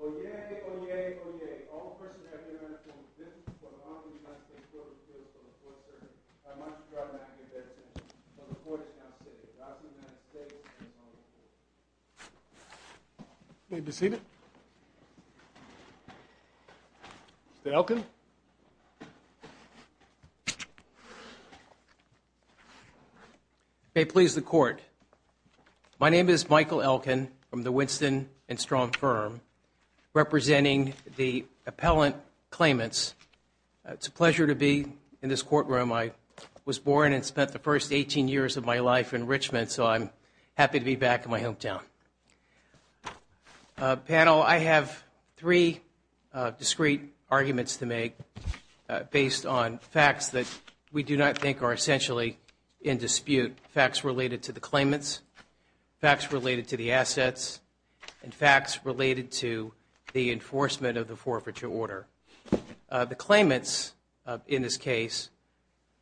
Oyez, oyez, oyez. All persons have the right to own business or property in the United States Court of Appeals before the Court of Arbitration. I must draw back my sentence. The Court is now seated. representing the appellant claimants. It's a pleasure to be in this courtroom. I was born and spent the first 18 years of my life in Richmond, so I'm happy to be back in my hometown. Panel, I have three discreet arguments to make based on facts that we do not think are essentially in dispute, facts related to the claimants, facts related to the assets, and facts related to the enforcement of the forfeiture order. The claimants in this case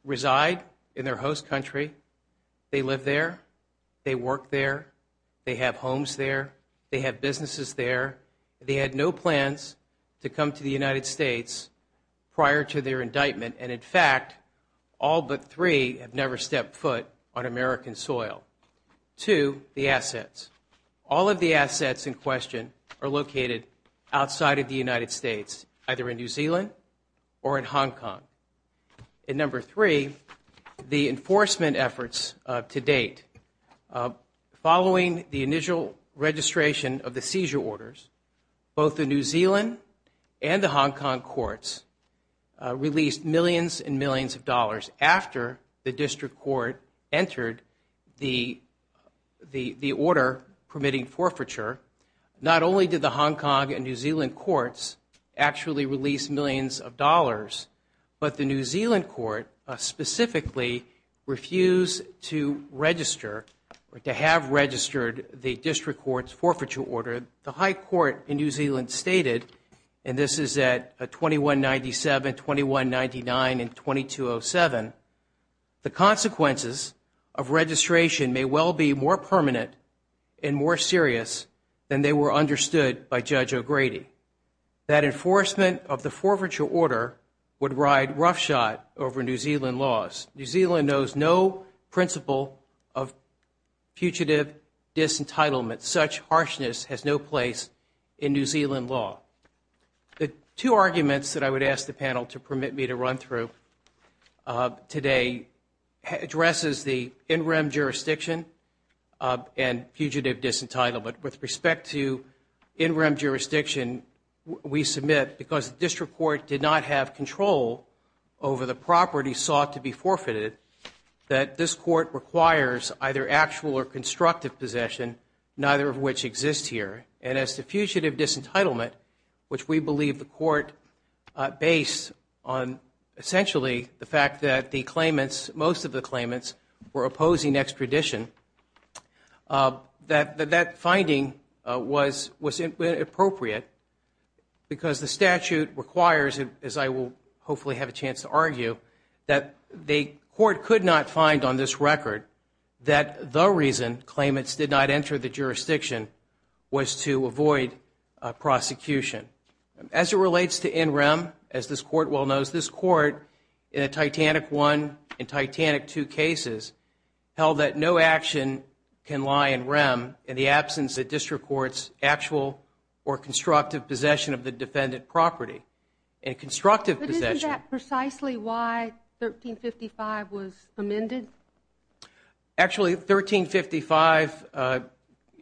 reside in their host country. They live there. They work there. They have homes there. They have businesses there. They had no plans to come to the United States prior to their indictment, and in fact, all but three have never stepped foot on American soil. Two, the assets. All of the assets in question are located outside of the United States, either in New Zealand or in Hong Kong. And number three, the enforcement efforts to date. Following the initial registration of the seizure orders, both the New Zealand and the Hong Kong courts released millions and millions of dollars after the district court entered the order permitting forfeiture. Not only did the Hong Kong and New Zealand courts actually release millions of dollars, but the New Zealand court specifically refused to register or to have registered the district court's forfeiture order. The High Court in New Zealand stated, and this is at 2197, 2199, and 2207, the consequences of registration may well be more permanent and more serious than they were understood by Judge O'Grady. That enforcement of the forfeiture order would ride roughshod over New Zealand laws. New Zealand knows no principle of fugitive disentitlement. Such harshness has no place in New Zealand law. The two arguments that I would ask the panel to permit me to run through today addresses the in-rem jurisdiction and fugitive disentitlement. With respect to in-rem jurisdiction, we submit, because the district court did not have control over the property sought to be forfeited, that this court requires either actual or constructive possession, neither of which exists here. And as to fugitive disentitlement, which we believe the court based on essentially the fact that the claimants, most of the claimants, were opposing extradition, that finding was inappropriate because the statute requires, as I will hopefully have a chance to argue, that the court could not find on this record that the reason claimants did not enter the jurisdiction was to avoid prosecution. As it relates to in-rem, as this court well knows, this court, in a Titanic I and Titanic II cases, held that no action can lie in-rem in the absence of district court's actual or constructive possession of the defendant property. And constructive possession… But isn't that precisely why 1355 was amended? Actually, 1355,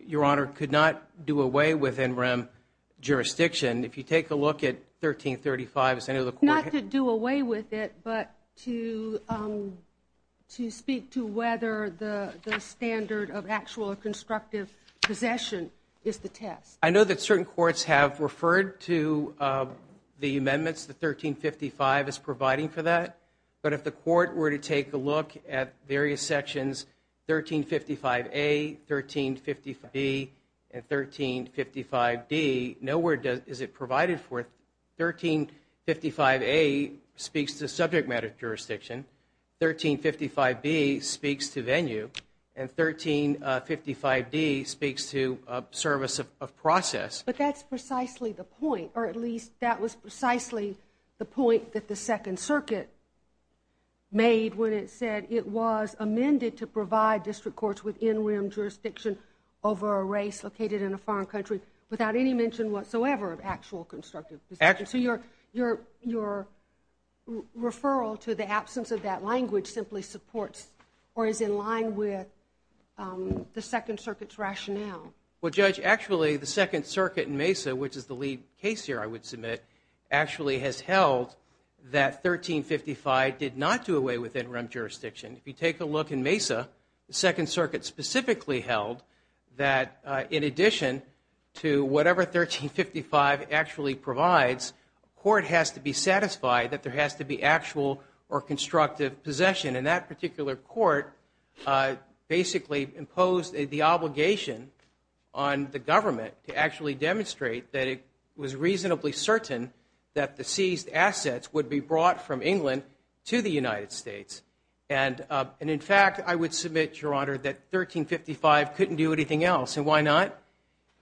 Your Honor, could not do away with in-rem jurisdiction. If you take a look at 1335… Not to do away with it, but to speak to whether the standard of actual or constructive possession is the test. I know that certain courts have referred to the amendments that 1355 is providing for that, but if the court were to take a look at various sections, 1355A, 1355B, and 1355D, nowhere is it provided for. 1355A speaks to subject matter jurisdiction, 1355B speaks to venue, and 1355D speaks to service of process. But that's precisely the point, or at least that was precisely the point that the Second Circuit made when it said it was amended to provide district courts with in-rem jurisdiction over a race located in a foreign country without any mention whatsoever of actual constructive possession. So your referral to the absence of that language simply supports or is in line with the Second Circuit's rationale. Well, Judge, actually the Second Circuit in Mesa, which is the lead case here I would submit, actually has held that 1355 did not do away with in-rem jurisdiction. If you take a look in Mesa, the Second Circuit specifically held that in addition to whatever 1355 actually provides, court has to be satisfied that there has to be actual or constructive possession. And that particular court basically imposed the obligation on the government to actually demonstrate that it was reasonably certain that the seized assets would be brought from England to the United States. And in fact, I would submit, Your Honor, that 1355 couldn't do anything else. And why not?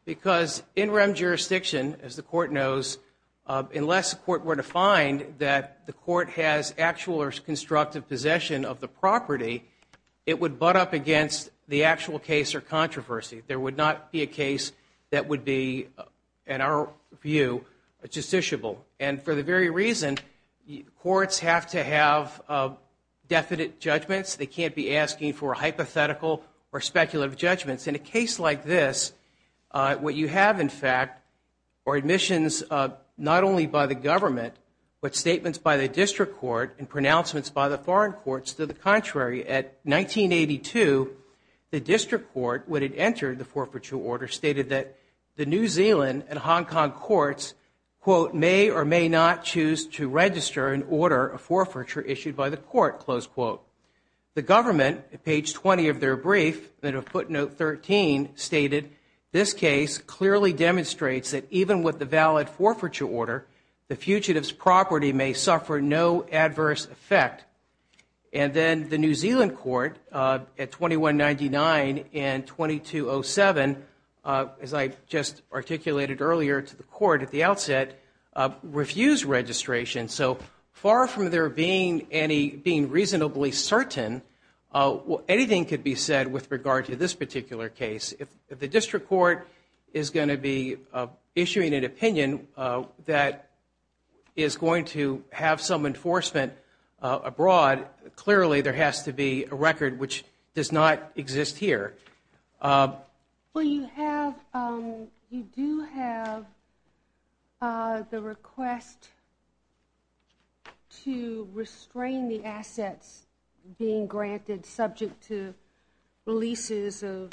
Because in-rem jurisdiction, as the court knows, unless a court were to find that the court has actual or constructive possession of the property, it would butt up against the actual case or controversy. There would not be a case that would be, in our view, justiciable. And for the very reason courts have to have definite judgments. They can't be asking for hypothetical or speculative judgments. In a case like this, what you have, in fact, are admissions not only by the government, but statements by the district court and pronouncements by the foreign courts to the contrary. At 1982, the district court, when it entered the forfeiture order, stated that the New Zealand and Hong Kong courts, quote, may or may not choose to register and order a forfeiture issued by the court, close quote. The government, at page 20 of their brief, in a footnote 13, stated, this case clearly demonstrates that even with the valid forfeiture order, the fugitive's property may suffer no adverse effect. And then the New Zealand court, at 2199 and 2207, as I just articulated earlier to the court at the outset, refused registration. So far from there being any, being reasonably certain, anything could be said with regard to this particular case. If the district court is going to be issuing an opinion that is going to have some enforcement abroad, clearly there has to be a record which does not exist here. Well, you have, you do have the request to restrain the assets being granted subject to releases of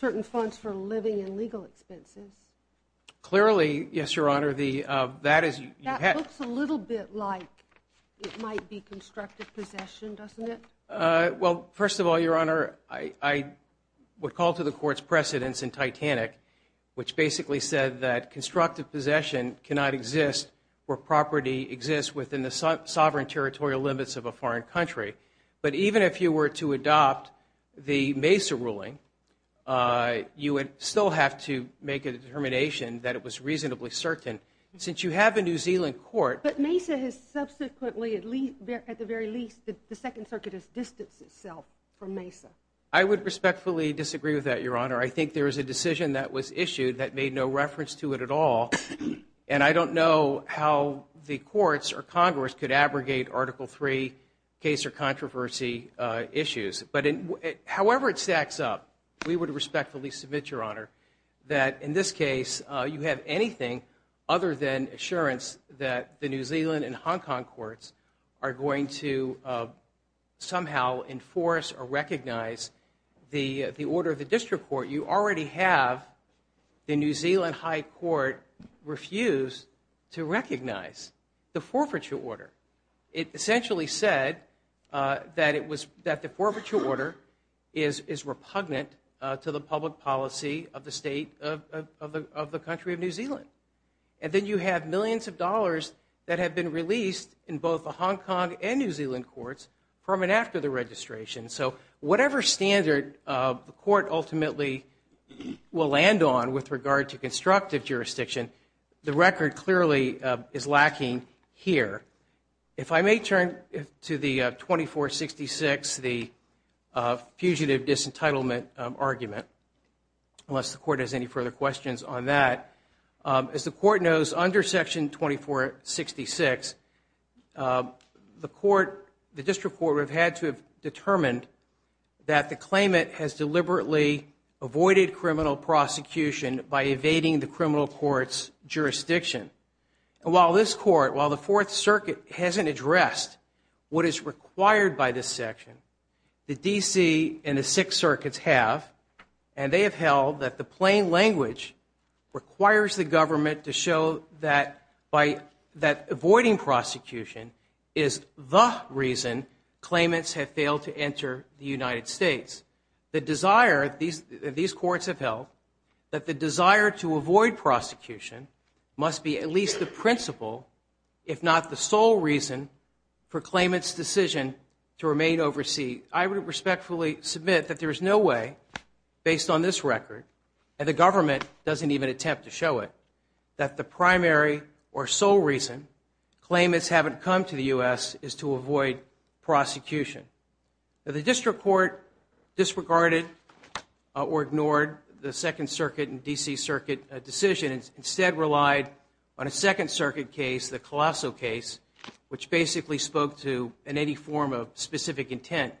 certain funds for living and legal expenses. Clearly, yes, Your Honor, that is. That looks a little bit like it might be constructive possession, doesn't it? Well, first of all, Your Honor, I would call to the court's precedence in Titanic, which basically said that constructive possession cannot exist where property exists within the sovereign territorial limits of a foreign country. But even if you were to adopt the Mesa ruling, you would still have to make a determination that it was reasonably certain. Since you have a New Zealand court. But Mesa has subsequently, at the very least, the Second Circuit has distanced itself from Mesa. I would respectfully disagree with that, Your Honor. I think there is a decision that was issued that made no reference to it at all, and I don't know how the courts or Congress could abrogate Article III case or controversy issues. However it stacks up, we would respectfully submit, Your Honor, that in this case, you have anything other than assurance that the New Zealand and Hong Kong courts are going to somehow enforce or recognize the order of the district court. You already have the New Zealand High Court refuse to recognize the forfeiture order. It essentially said that the forfeiture order is repugnant to the public policy of the state of the country of New Zealand. And then you have millions of dollars that have been released in both the Hong Kong and New Zealand courts from and after the registration. So whatever standard the court ultimately will land on with regard to constructive jurisdiction, the record clearly is lacking here. If I may turn to the 2466, the fugitive disentitlement argument, unless the court has any further questions on that. As the court knows, under Section 2466, the district court would have had to have determined that the claimant has deliberately avoided criminal prosecution by evading the criminal court's jurisdiction. While this court, while the Fourth Circuit hasn't addressed what is required by this section, the D.C. and the Sixth Circuits have. And they have held that the plain language requires the government to show that avoiding prosecution is the reason claimants have failed to enter the United States. The desire, these courts have held, that the desire to avoid prosecution must be at least the principle, if not the sole reason, for claimants' decision to remain overseas. I would respectfully submit that there is no way, based on this record, and the government doesn't even attempt to show it, that the primary or sole reason claimants haven't come to the U.S. is to avoid prosecution. The district court disregarded or ignored the Second Circuit and D.C. Circuit decisions, instead relied on a Second Circuit case, the Colosso case, which basically spoke to any form of specific intent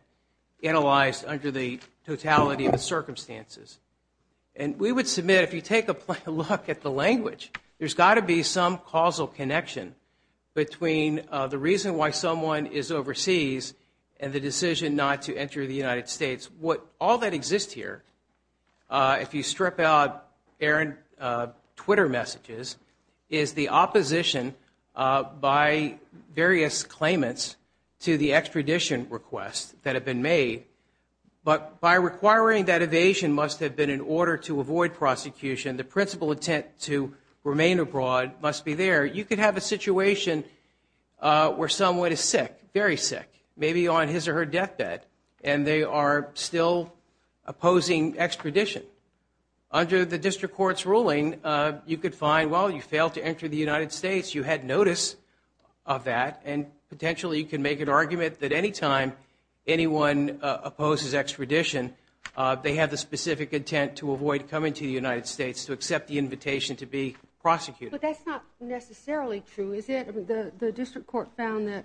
analyzed under the totality of the circumstances. And we would submit, if you take a look at the language, there's got to be some causal connection between the reason why someone is overseas and the decision not to enter the United States. All that exists here, if you strip out errant Twitter messages, is the opposition by various claimants to the extradition requests that have been made. But by requiring that evasion must have been in order to avoid prosecution, the principal intent to remain abroad must be there. You could have a situation where someone is sick, very sick, maybe on his or her deathbed, and they are still opposing extradition. Under the district court's ruling, you could find, well, you failed to enter the United States, you had notice of that, and potentially you could make an argument that anytime anyone opposes extradition, they have the specific intent to avoid coming to the United States to accept the invitation to be prosecuted. But that's not necessarily true, is it? The district court found that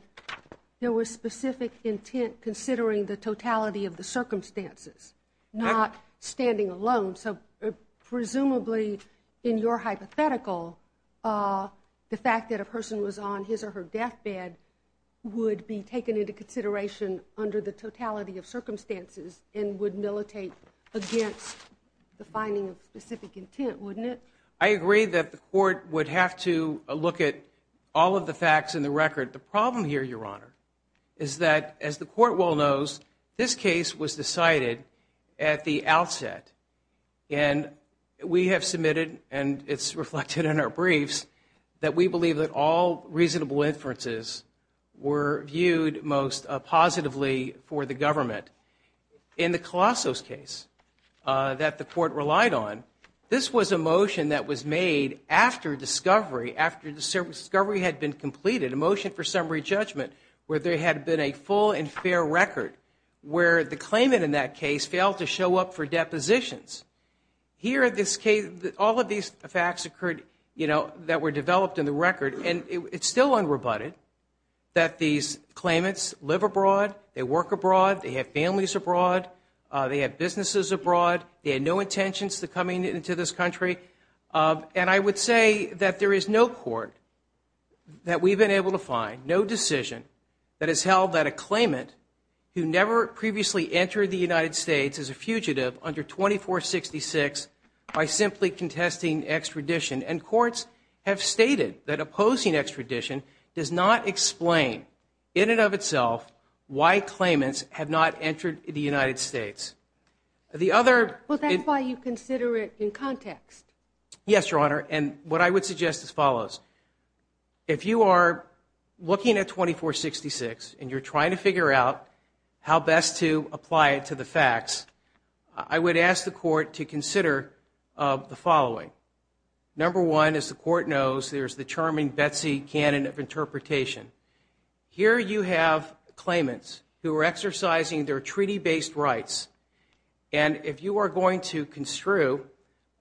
there was specific intent considering the totality of the circumstances, not standing alone. So presumably, in your hypothetical, the fact that a person was on his or her deathbed would be taken into consideration under the totality of circumstances and would militate against the finding of specific intent, wouldn't it? I agree that the court would have to look at all of the facts in the record. The problem here, Your Honor, is that, as the court well knows, this case was decided at the outset. And we have submitted, and it's reflected in our briefs, that we believe that all reasonable inferences were viewed most positively for the government. In the Colossos case that the court relied on, this was a motion that was made after discovery, after discovery had been completed, a motion for summary judgment, where there had been a full and fair record, where the claimant in that case failed to show up for depositions. Here, all of these facts occurred that were developed in the record, and it's still unrebutted that these claimants live abroad, they work abroad, they have families abroad, they have businesses abroad, they had no intentions of coming into this country. And I would say that there is no court that we've been able to find, no decision, that has held that a claimant who never previously entered the United States is a fugitive under 2466 by simply contesting extradition. And courts have stated that opposing extradition does not explain, in and of itself, why claimants have not entered the United States. Well, that's why you consider it in context. Yes, Your Honor, and what I would suggest is as follows. If you are looking at 2466 and you're trying to figure out how best to apply it to the facts, I would ask the court to consider the following. Number one, as the court knows, there's the charming Betsy canon of interpretation. Here you have claimants who are exercising their treaty-based rights, and if you are going to construe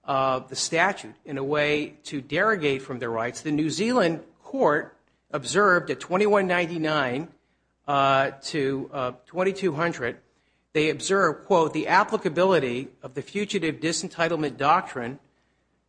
the statute in a way to derogate from their rights, the New Zealand court observed at 2199 to 2200, they observed, quote, the applicability of the fugitive disentitlement doctrine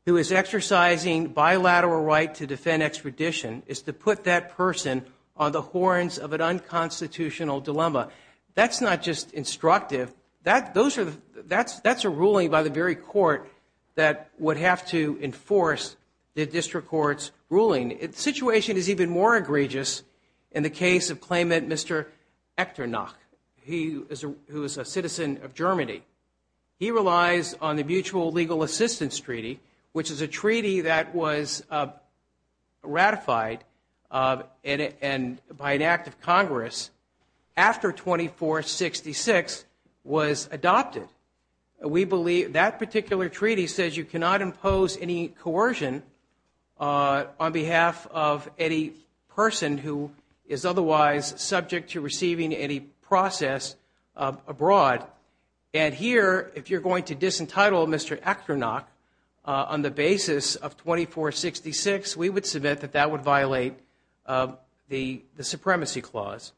who is exercising bilateral right to defend extradition is to put that person on the horns of an unconstitutional dilemma. That's not just instructive. That's a ruling by the very court that would have to enforce the district court's ruling. The situation is even more egregious in the case of claimant Mr. Echternach, who is a citizen of Germany. He relies on the Mutual Legal Assistance Treaty, which is a treaty that was ratified by an act of Congress after 2466 was adopted. We believe that particular treaty says you cannot impose any coercion on behalf of any person who is otherwise subject to receiving any process abroad. And here, if you're going to disentitle Mr. Echternach on the basis of 2466, we would submit that that would violate the supremacy clause.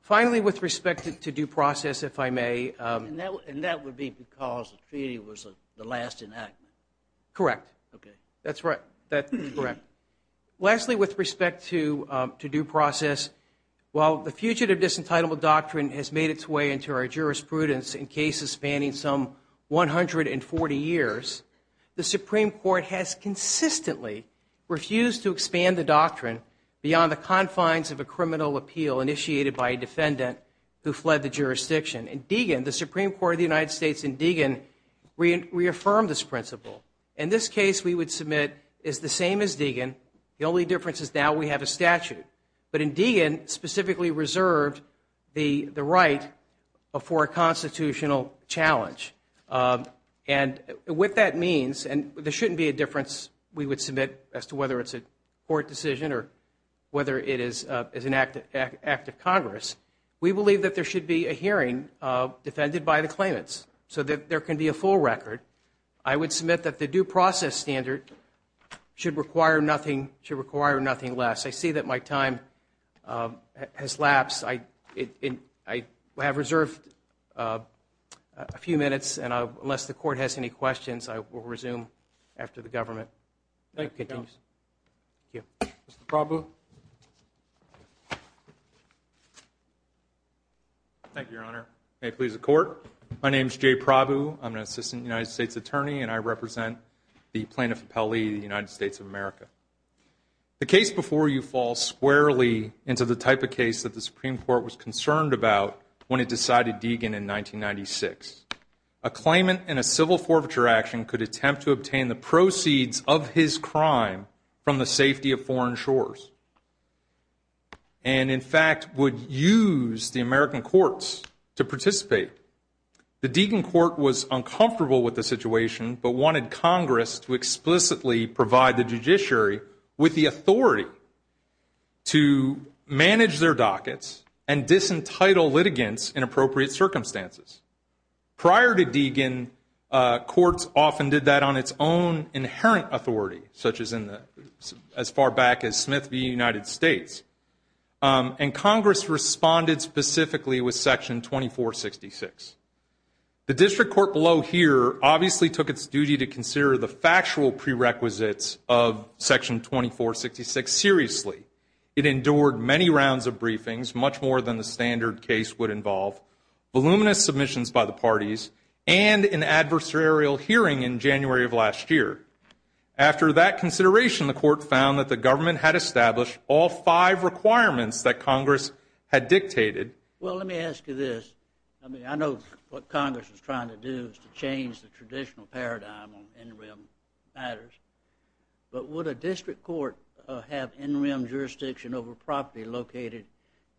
Finally, with respect to due process, if I may. And that would be because the treaty was the last enactment? Correct. Okay. That's right. That's correct. Lastly, with respect to due process, while the Fugitive Disentitlement Doctrine has made its way into our jurisprudence in cases spanning some 140 years, the Supreme Court has consistently refused to expand the doctrine beyond the confines of a criminal appeal initiated by a defendant who fled the jurisdiction. And Deegan, the Supreme Court of the United States in Deegan, reaffirmed this principle. In this case, we would submit it's the same as Deegan. The only difference is now we have a statute. But in Deegan, specifically reserved the right for a constitutional challenge. And what that means, and there shouldn't be a difference, we would submit, as to whether it's a court decision or whether it is an act of Congress. We believe that there should be a hearing defended by the claimants so that there can be a full record. I would submit that the due process standard should require nothing less. I see that my time has lapsed. I have reserved a few minutes, and unless the court has any questions, I will resume after the government continues. Mr. Prabhu. Thank you, Your Honor. May it please the Court. My name is Jay Prabhu. I'm an assistant United States attorney, and I represent the plaintiff appellee of the United States of America. The case before you falls squarely into the type of case that the Supreme Court was concerned about when it decided Deegan in 1996. A claimant in a civil forfeiture action could attempt to obtain the proceeds of his crime from the safety of foreign shores. And, in fact, would use the American courts to participate. The Deegan court was uncomfortable with the situation, but wanted Congress to explicitly provide the judiciary with the authority to manage their dockets and disentitle litigants in appropriate circumstances. Prior to Deegan, courts often did that on its own inherent authority, such as as far back as Smith v. United States. And Congress responded specifically with Section 2466. The district court below here obviously took its duty to consider the factual prerequisites of Section 2466 seriously. It endured many rounds of briefings, much more than the standard case would involve, voluminous submissions by the parties, and an adversarial hearing in January of last year. After that consideration, the court found that the government had established all five requirements that Congress had dictated. Well, let me ask you this. I mean, I know what Congress is trying to do is to change the traditional paradigm on in-rim matters, but would a district court have in-rim jurisdiction over property located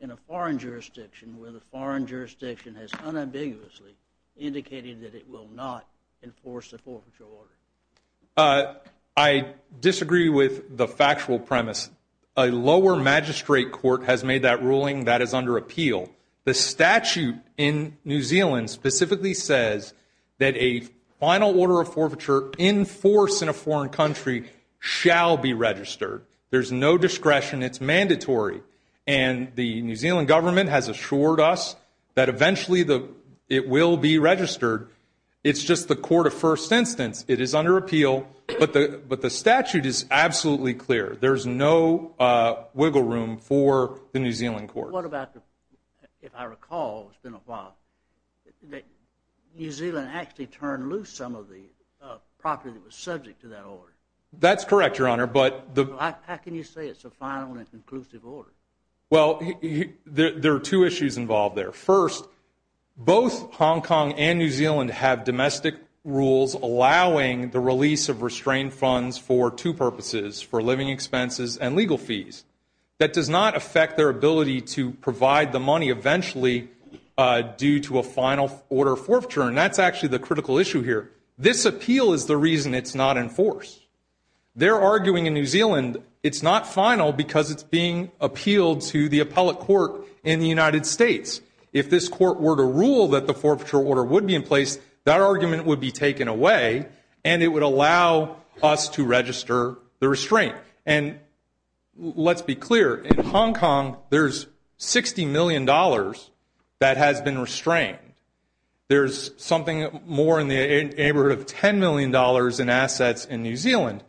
in a foreign jurisdiction where the foreign jurisdiction has unambiguously indicated that it will not enforce the forfeiture order? I disagree with the factual premise. A lower magistrate court has made that ruling. That is under appeal. The statute in New Zealand specifically says that a final order of forfeiture in force in a foreign country shall be registered. There's no discretion. It's mandatory. And the New Zealand government has assured us that eventually it will be registered. It's just the court of first instance. It is under appeal. But the statute is absolutely clear. There's no wiggle room for the New Zealand court. What about the, if I recall, it's been a while, that New Zealand actually turned loose some of the property that was subject to that order? That's correct, Your Honor. How can you say it's a final and conclusive order? Well, there are two issues involved there. First, both Hong Kong and New Zealand have domestic rules allowing the release of restrained funds for two purposes, for living expenses and legal fees. That does not affect their ability to provide the money eventually due to a final order of forfeiture, and that's actually the critical issue here. This appeal is the reason it's not in force. They're arguing in New Zealand it's not final because it's being appealed to the appellate court in the United States. If this court were to rule that the forfeiture order would be in place, that argument would be taken away, and it would allow us to register the restraint. And let's be clear, in Hong Kong, there's $60 million that has been restrained. There's something more in the neighborhood of $10 million in assets in New Zealand.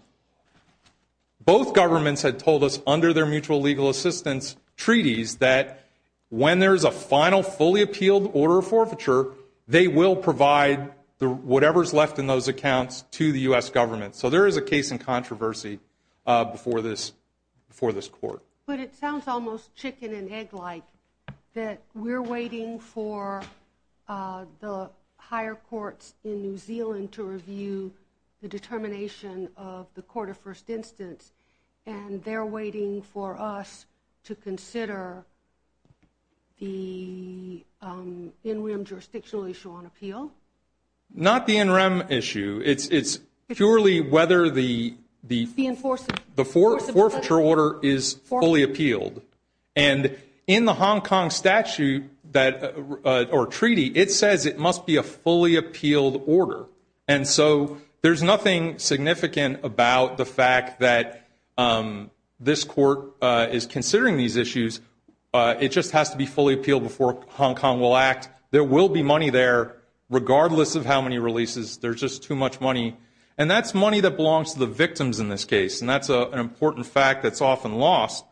Both governments had told us under their mutual legal assistance treaties that when there's a final, fully appealed order of forfeiture, they will provide whatever's left in those accounts to the U.S. government. So there is a case in controversy before this court. But it sounds almost chicken and egg-like that we're waiting for the higher courts in New Zealand to review the determination of the court of first instance, and they're waiting for us to consider the in-rim jurisdictional issue on appeal? Not the in-rim issue. It's purely whether the forfeiture order is fully appealed. And in the Hong Kong statute or treaty, it says it must be a fully appealed order. And so there's nothing significant about the fact that this court is considering these issues. It just has to be fully appealed before Hong Kong will act. There will be money there regardless of how many releases. There's just too much money. And that's money that belongs to the victims in this case, and that's an important fact that's often lost.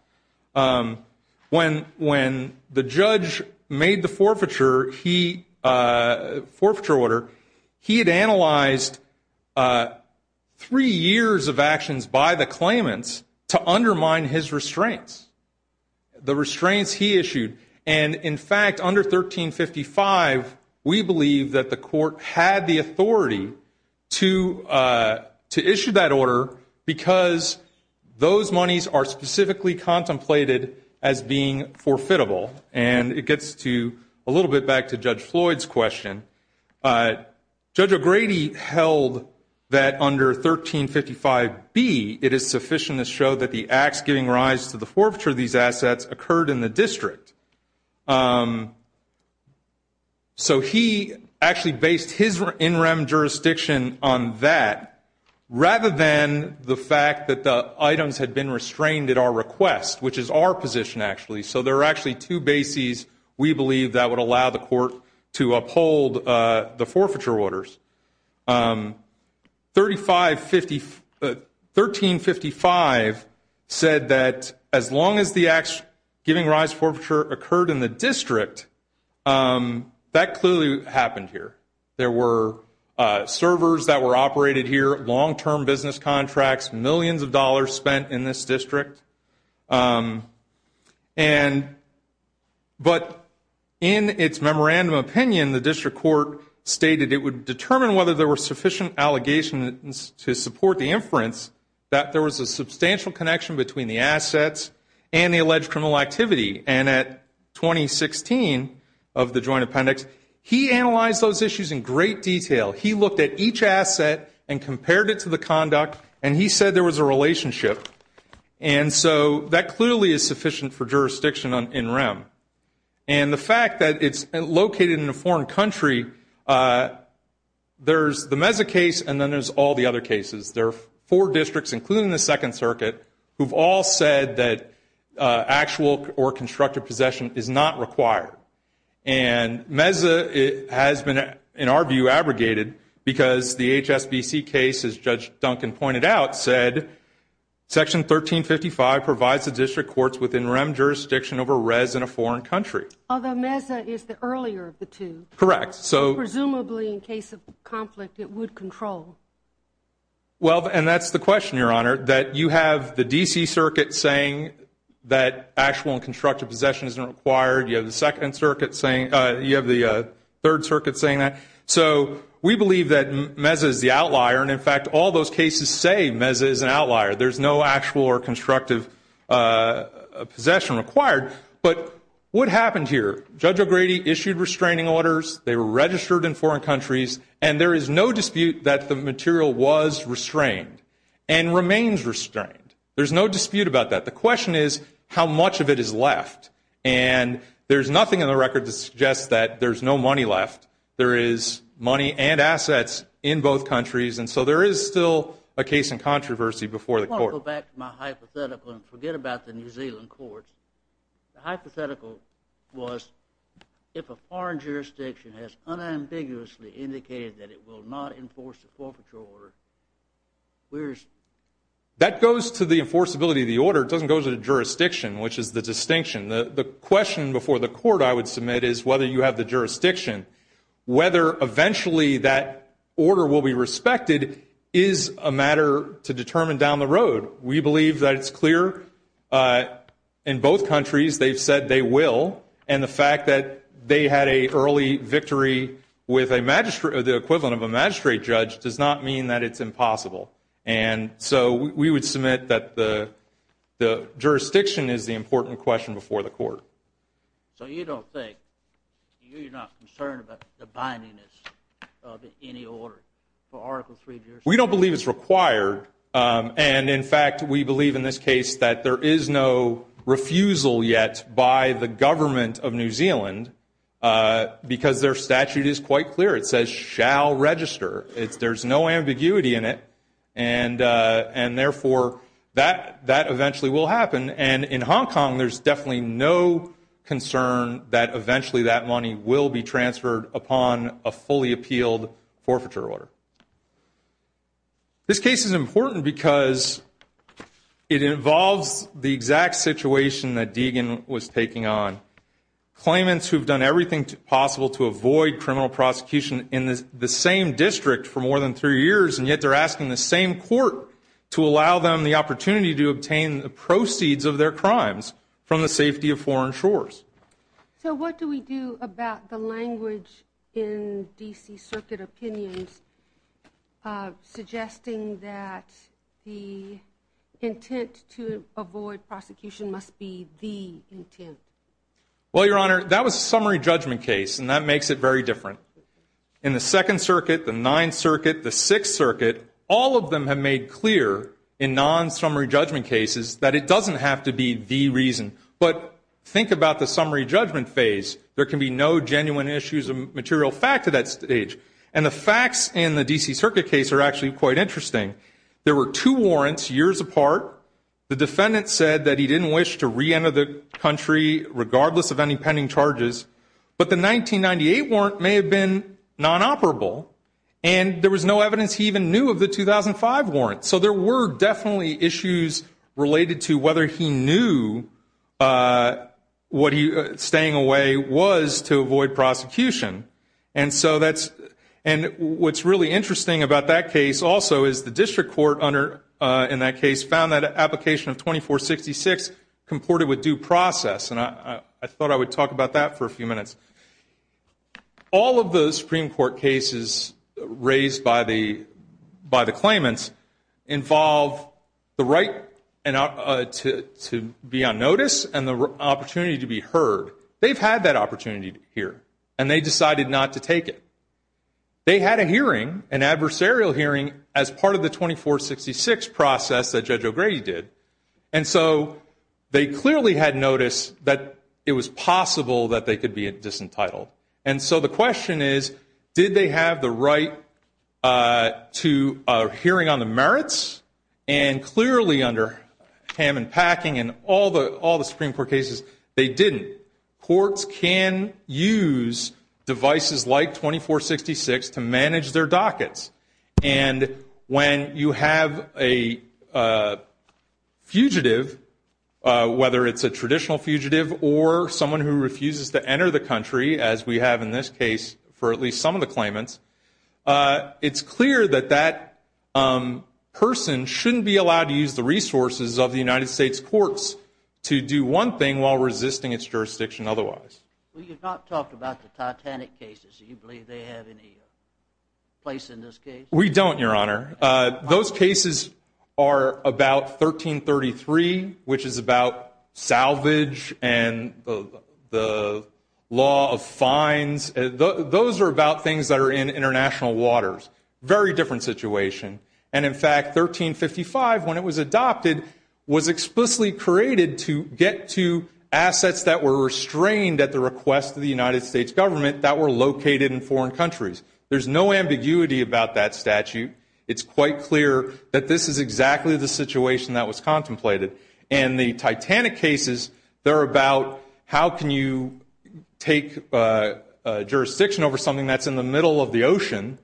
When the judge made the forfeiture order, he had analyzed three years of actions by the claimants to undermine his restraints, the restraints he issued. And, in fact, under 1355, we believe that the court had the authority to issue that order because those monies are specifically contemplated as being forfeitable. And it gets a little bit back to Judge Floyd's question. Judge O'Grady held that under 1355B, it is sufficient to show that the acts giving rise to the forfeiture of these assets occurred in the district. So he actually based his in rem jurisdiction on that rather than the fact that the items had been restrained at our request, which is our position actually. So there are actually two bases we believe that would allow the court to uphold the forfeiture orders. 1355 said that as long as the acts giving rise to forfeiture occurred in the district, that clearly happened here. There were servers that were operated here, long-term business contracts, millions of dollars spent in this district. But in its memorandum opinion, the district court stated it would determine whether there were sufficient allegations to support the inference that there was a substantial connection between the assets and the alleged criminal activity. And at 2016 of the joint appendix, he analyzed those issues in great detail. He looked at each asset and compared it to the conduct, and he said there was a relationship. And so that clearly is sufficient for jurisdiction in rem. And the fact that it's located in a foreign country, there's the Meza case, and then there's all the other cases. There are four districts, including the Second Circuit, who've all said that actual or constructive possession is not required. And Meza has been, in our view, abrogated because the HSBC case, as Judge Duncan pointed out, said Section 1355 provides the district courts within rem jurisdiction over res in a foreign country. Although Meza is the earlier of the two. Correct. Presumably, in case of conflict, it would control. Well, and that's the question, Your Honor, that you have the D.C. Circuit saying that actual and constructive possession isn't required. You have the Third Circuit saying that. So we believe that Meza is the outlier. And, in fact, all those cases say Meza is an outlier. There's no actual or constructive possession required. But what happened here? Judge O'Grady issued restraining orders. They were registered in foreign countries. And there is no dispute that the material was restrained and remains restrained. There's no dispute about that. The question is how much of it is left. And there's nothing in the record that suggests that there's no money left. There is money and assets in both countries. And so there is still a case in controversy before the court. I want to go back to my hypothetical and forget about the New Zealand courts. The hypothetical was if a foreign jurisdiction has unambiguously indicated that it will not enforce a forfeiture order, where is it? That goes to the enforceability of the order. It doesn't go to the jurisdiction, which is the distinction. The question before the court I would submit is whether you have the jurisdiction. Whether eventually that order will be respected is a matter to determine down the road. We believe that it's clear in both countries they've said they will. And the fact that they had an early victory with the equivalent of a magistrate judge does not mean that it's impossible. And so we would submit that the jurisdiction is the important question before the court. So you don't think, you're not concerned about the bindingness of any order for Article III jurisdiction? We don't believe it's required. And, in fact, we believe in this case that there is no refusal yet by the government of New Zealand because their statute is quite clear. It says shall register. There's no ambiguity in it, and therefore that eventually will happen. And in Hong Kong there's definitely no concern that eventually that money will be transferred upon a fully appealed forfeiture order. This case is important because it involves the exact situation that Deegan was taking on. Claimants who've done everything possible to avoid criminal prosecution in the same district for more than three years, and yet they're asking the same court to allow them the opportunity to obtain the proceeds of their crimes from the safety of foreign shores. So what do we do about the language in D.C. Circuit opinions suggesting that the intent to avoid prosecution must be the intent? Well, Your Honor, that was a summary judgment case, and that makes it very different. In the Second Circuit, the Ninth Circuit, the Sixth Circuit, all of them have made clear in non-summary judgment cases that it doesn't have to be the reason. But think about the summary judgment phase. There can be no genuine issues of material fact at that stage. And the facts in the D.C. Circuit case are actually quite interesting. There were two warrants years apart. The defendant said that he didn't wish to re-enter the country regardless of any pending charges. But the 1998 warrant may have been non-operable, and there was no evidence he even knew of the 2005 warrant. So there were definitely issues related to whether he knew what staying away was to avoid prosecution. And what's really interesting about that case also is the district court in that case found that an application of 2466 comported with due process. And I thought I would talk about that for a few minutes. All of the Supreme Court cases raised by the claimants involve the right to be on notice and the opportunity to be heard. They've had that opportunity to hear, and they decided not to take it. They had a hearing, an adversarial hearing, as part of the 2466 process that Judge O'Grady did. And so they clearly had notice that it was possible that they could be disentitled. And so the question is, did they have the right to a hearing on the merits? And clearly under Hammond Packing and all the Supreme Court cases, they didn't. Courts can use devices like 2466 to manage their dockets. And when you have a fugitive, whether it's a traditional fugitive or someone who refuses to enter the country, as we have in this case for at least some of the claimants, it's clear that that person shouldn't be allowed to use the resources of the United States courts to do one thing while resisting its jurisdiction otherwise. Well, you've not talked about the Titanic cases. Do you believe they have any place in this case? We don't, Your Honor. Those cases are about 1333, which is about salvage and the law of fines. Those are about things that are in international waters. Very different situation. And, in fact, 1355, when it was adopted, was explicitly created to get to assets that were restrained at the request of the United States government that were located in foreign countries. There's no ambiguity about that statute. It's quite clear that this is exactly the situation that was contemplated. And the Titanic cases, they're about how can you take jurisdiction over something that's in the middle of the ocean.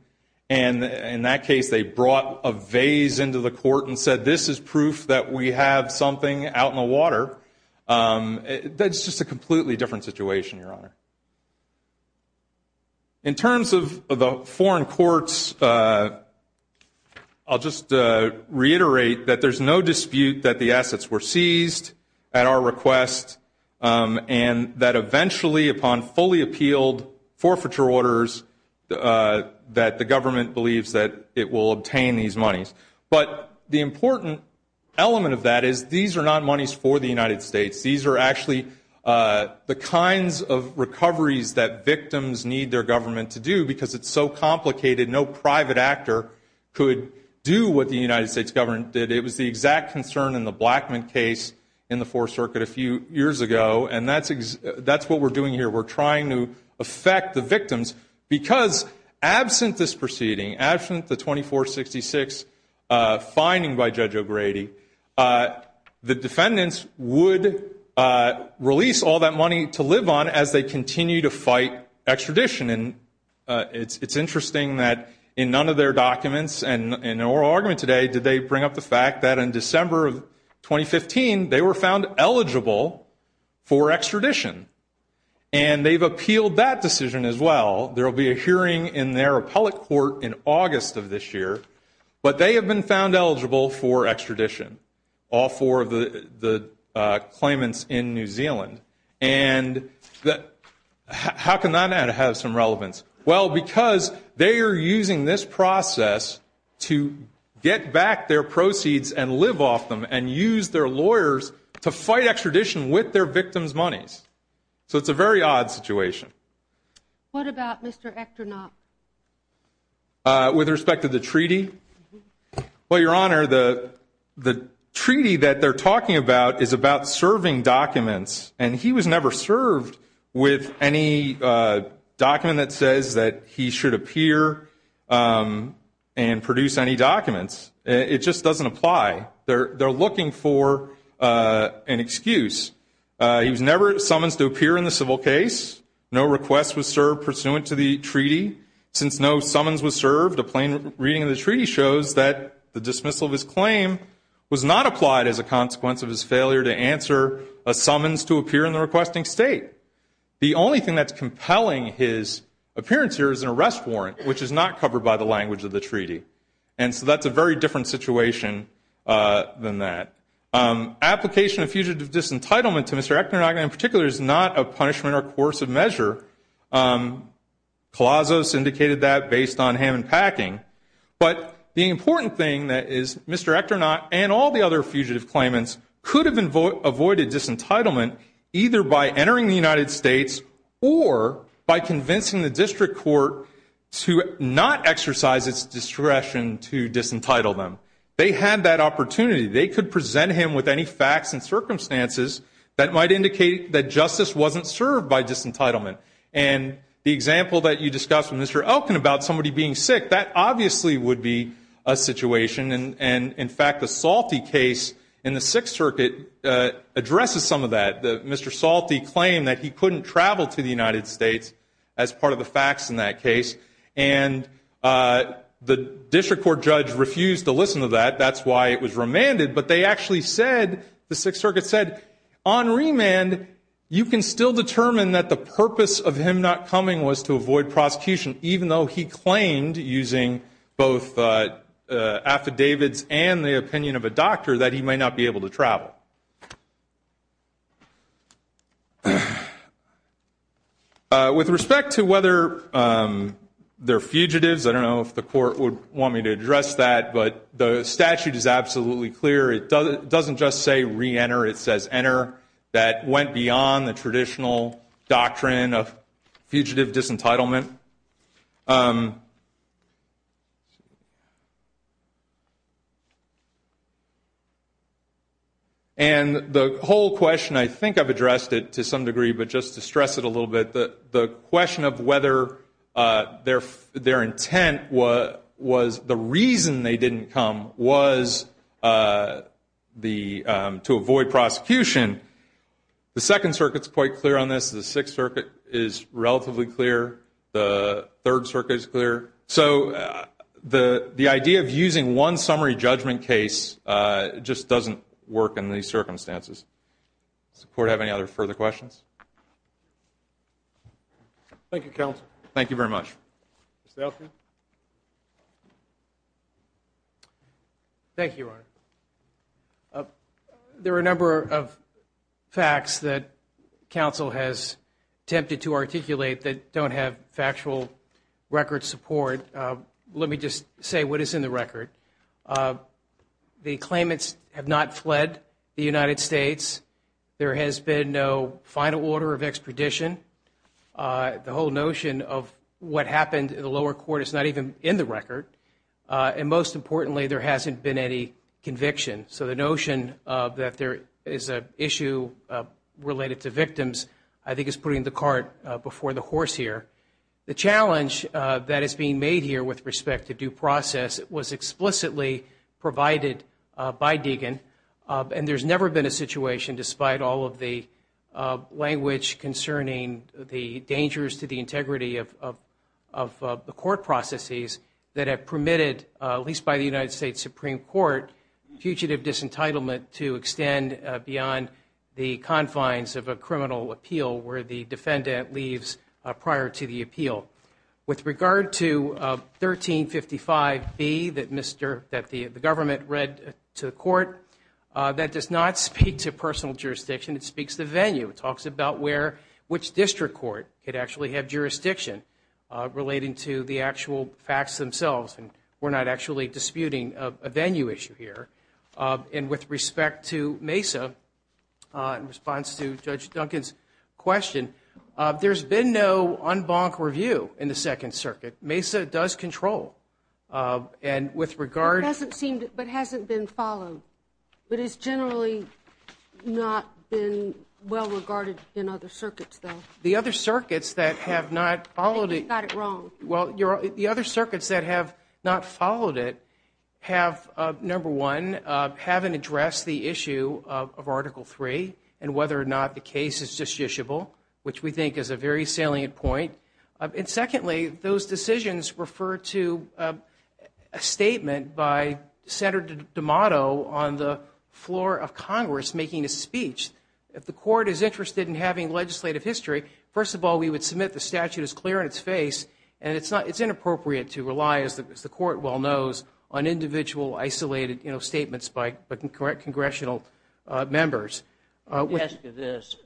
And in that case, they brought a vase into the court and said, this is proof that we have something out in the water. That's just a completely different situation, Your Honor. In terms of the foreign courts, I'll just reiterate that there's no dispute that the assets were seized at our request and that eventually, upon fully appealed forfeiture orders, that the government believes that it will obtain these monies. But the important element of that is these are not monies for the United States. These are actually the kinds of recoveries that victims need their government to do because it's so complicated. No private actor could do what the United States government did. It was the exact concern in the Blackmun case in the Fourth Circuit a few years ago. And that's what we're doing here. We're trying to affect the victims because, absent this proceeding, absent the 2466 finding by Judge O'Grady, the defendants would release all that money to live on as they continue to fight extradition. And it's interesting that in none of their documents and in oral argument today did they bring up the fact that in December of 2015, they were found eligible for extradition. And they've appealed that decision as well. There will be a hearing in their appellate court in August of this year. But they have been found eligible for extradition, all four of the claimants in New Zealand. And how can that not have some relevance? Well, because they are using this process to get back their proceeds and live off them and use their lawyers to fight extradition with their victims' monies. So it's a very odd situation. What about Mr. Ekternop? With respect to the treaty? Well, Your Honor, the treaty that they're talking about is about serving documents. And he was never served with any document that says that he should appear and produce any documents. It just doesn't apply. They're looking for an excuse. He was never summonsed to appear in the civil case. No request was served pursuant to the treaty. Since no summons was served, a plain reading of the treaty shows that the dismissal of his claim was not applied as a consequence of his failure to answer a summons to appear in the requesting state. The only thing that's compelling his appearance here is an arrest warrant, which is not covered by the language of the treaty. And so that's a very different situation than that. Application of fugitive disentitlement to Mr. Ekternop, in particular, is not a punishment or coercive measure. Colossos indicated that based on Hammond Packing. But the important thing is Mr. Ekternop and all the other fugitive claimants could have avoided disentitlement either by entering the United States or by convincing the district court to not exercise its discretion to disentitle them. They had that opportunity. They could present him with any facts and circumstances that might indicate that justice wasn't served by disentitlement. And the example that you discussed with Mr. Elkin about somebody being sick, that obviously would be a situation. And, in fact, the Salty case in the Sixth Circuit addresses some of that. Mr. Salty claimed that he couldn't travel to the United States as part of the facts in that case. And the district court judge refused to listen to that. That's why it was remanded. But they actually said, the Sixth Circuit said, on remand, you can still determine that the purpose of him not coming was to avoid prosecution, even though he claimed, using both affidavits and the opinion of a doctor, that he might not be able to travel. With respect to whether they're fugitives, I don't know if the court would want me to address that, but the statute is absolutely clear. It doesn't just say reenter. It says enter. That went beyond the traditional doctrine of fugitive disentitlement. And the whole question, I think I've addressed it to some degree, but just to stress it a little bit, the question of whether their intent was the reason they didn't come was to avoid prosecution. The Second Circuit is quite clear on this. The Sixth Circuit is relatively clear. The Third Circuit is clear. So the idea of using one summary judgment case just doesn't work in these circumstances. Does the court have any other further questions? Thank you, counsel. Thank you very much. Mr. Elkin. Thank you, Your Honor. There are a number of facts that counsel has attempted to articulate that don't have factual record support. Let me just say what is in the record. The claimants have not fled the United States. There has been no final order of expedition. The whole notion of what happened in the lower court is not even in the record. And most importantly, there hasn't been any conviction. So the notion that there is an issue related to victims I think is putting the cart before the horse here. The challenge that is being made here with respect to due process was explicitly provided by Deegan. And there's never been a situation, despite all of the language concerning the dangers to the integrity of the court processes, that have permitted, at least by the United States Supreme Court, fugitive disentitlement to extend beyond the confines of a criminal appeal where the defendant leaves prior to the appeal. With regard to 1355B that the government read to the court, that does not speak to personal jurisdiction. It speaks to venue. It talks about which district court could actually have jurisdiction relating to the actual facts themselves. And we're not actually disputing a venue issue here. And with respect to Mesa, in response to Judge Duncan's question, there's been no en banc review in the Second Circuit. Mesa does control. And with regard to- It hasn't been followed. But it's generally not been well regarded in other circuits, though. The other circuits that have not followed- I think you've got it wrong. Well, the other circuits that have not followed it have, number one, haven't addressed the issue of Article III and whether or not the case is justiciable, which we think is a very salient point. And secondly, those decisions refer to a statement by Senator D'Amato on the floor of Congress making a speech. If the court is interested in having legislative history, first of all, we would submit the statute is clear in its face. And it's inappropriate to rely, as the court well knows, on individual, isolated statements by congressional members. Let me ask you this.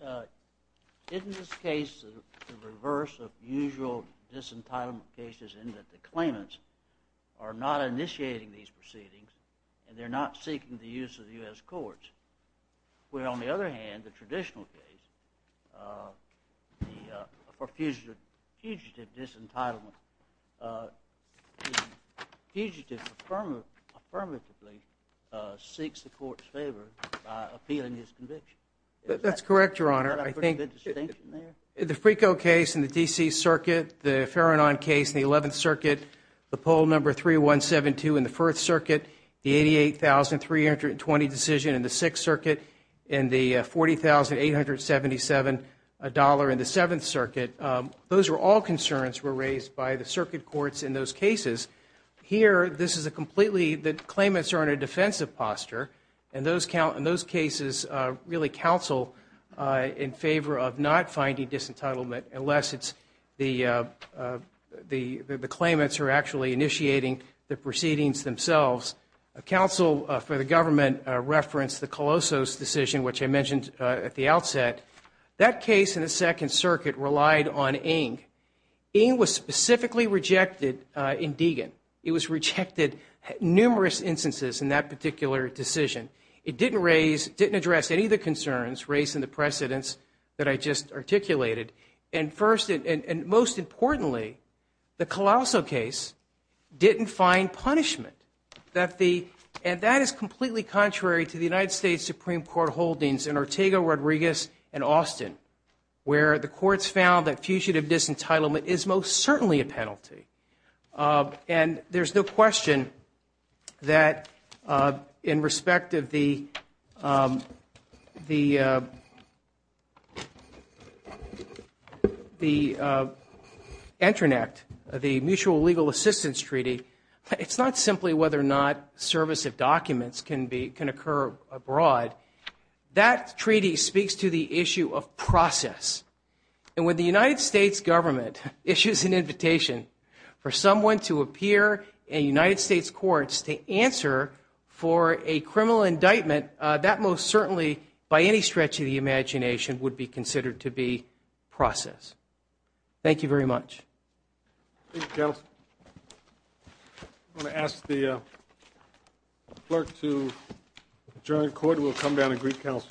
Isn't this case the reverse of usual disentitlement cases in that the claimants are not initiating these proceedings and they're not seeking the use of the U.S. courts? Where, on the other hand, the traditional case, the fugitive disentitlement, the fugitive affirmatively seeks the court's favor by appealing his conviction. That's correct, Your Honor. I think- Is that a pretty good distinction there? The Frico case in the D.C. Circuit, the Faranon case in the 11th Circuit, the poll number 3172 in the 4th Circuit, the 88,320 decision in the 6th Circuit, and the $40,877 in the 7th Circuit, those were all concerns were raised by the circuit courts in those cases. Here, this is a completely- the claimants are in a defensive posture, and those cases really counsel in favor of not finding disentitlement unless it's the claimants who are actually initiating the proceedings themselves. Counsel for the government referenced the Colosso's decision, which I mentioned at the outset. That case in the 2nd Circuit relied on Ing. Ing was specifically rejected in Deagon. It was rejected numerous instances in that particular decision. It didn't raise- didn't address any of the concerns raised in the precedents that I just articulated. And first, and most importantly, the Colosso case didn't find punishment. And that is completely contrary to the United States Supreme Court holdings in Ortega, Rodriguez, and Austin, where the courts found that fugitive disentitlement is most certainly a penalty. And there's no question that in respect of the Entrant Act, the Mutual Legal Assistance Treaty, it's not simply whether or not service of documents can occur abroad. That treaty speaks to the issue of process. And when the United States government issues an invitation for someone to appear in United States courts to answer for a criminal indictment, that most certainly, by any stretch of the imagination, would be considered to be process. Thank you very much. Thank you, counsel. I'm going to ask the clerk to adjourn the court, and we'll come down and greet counsel. Thank you, counsel.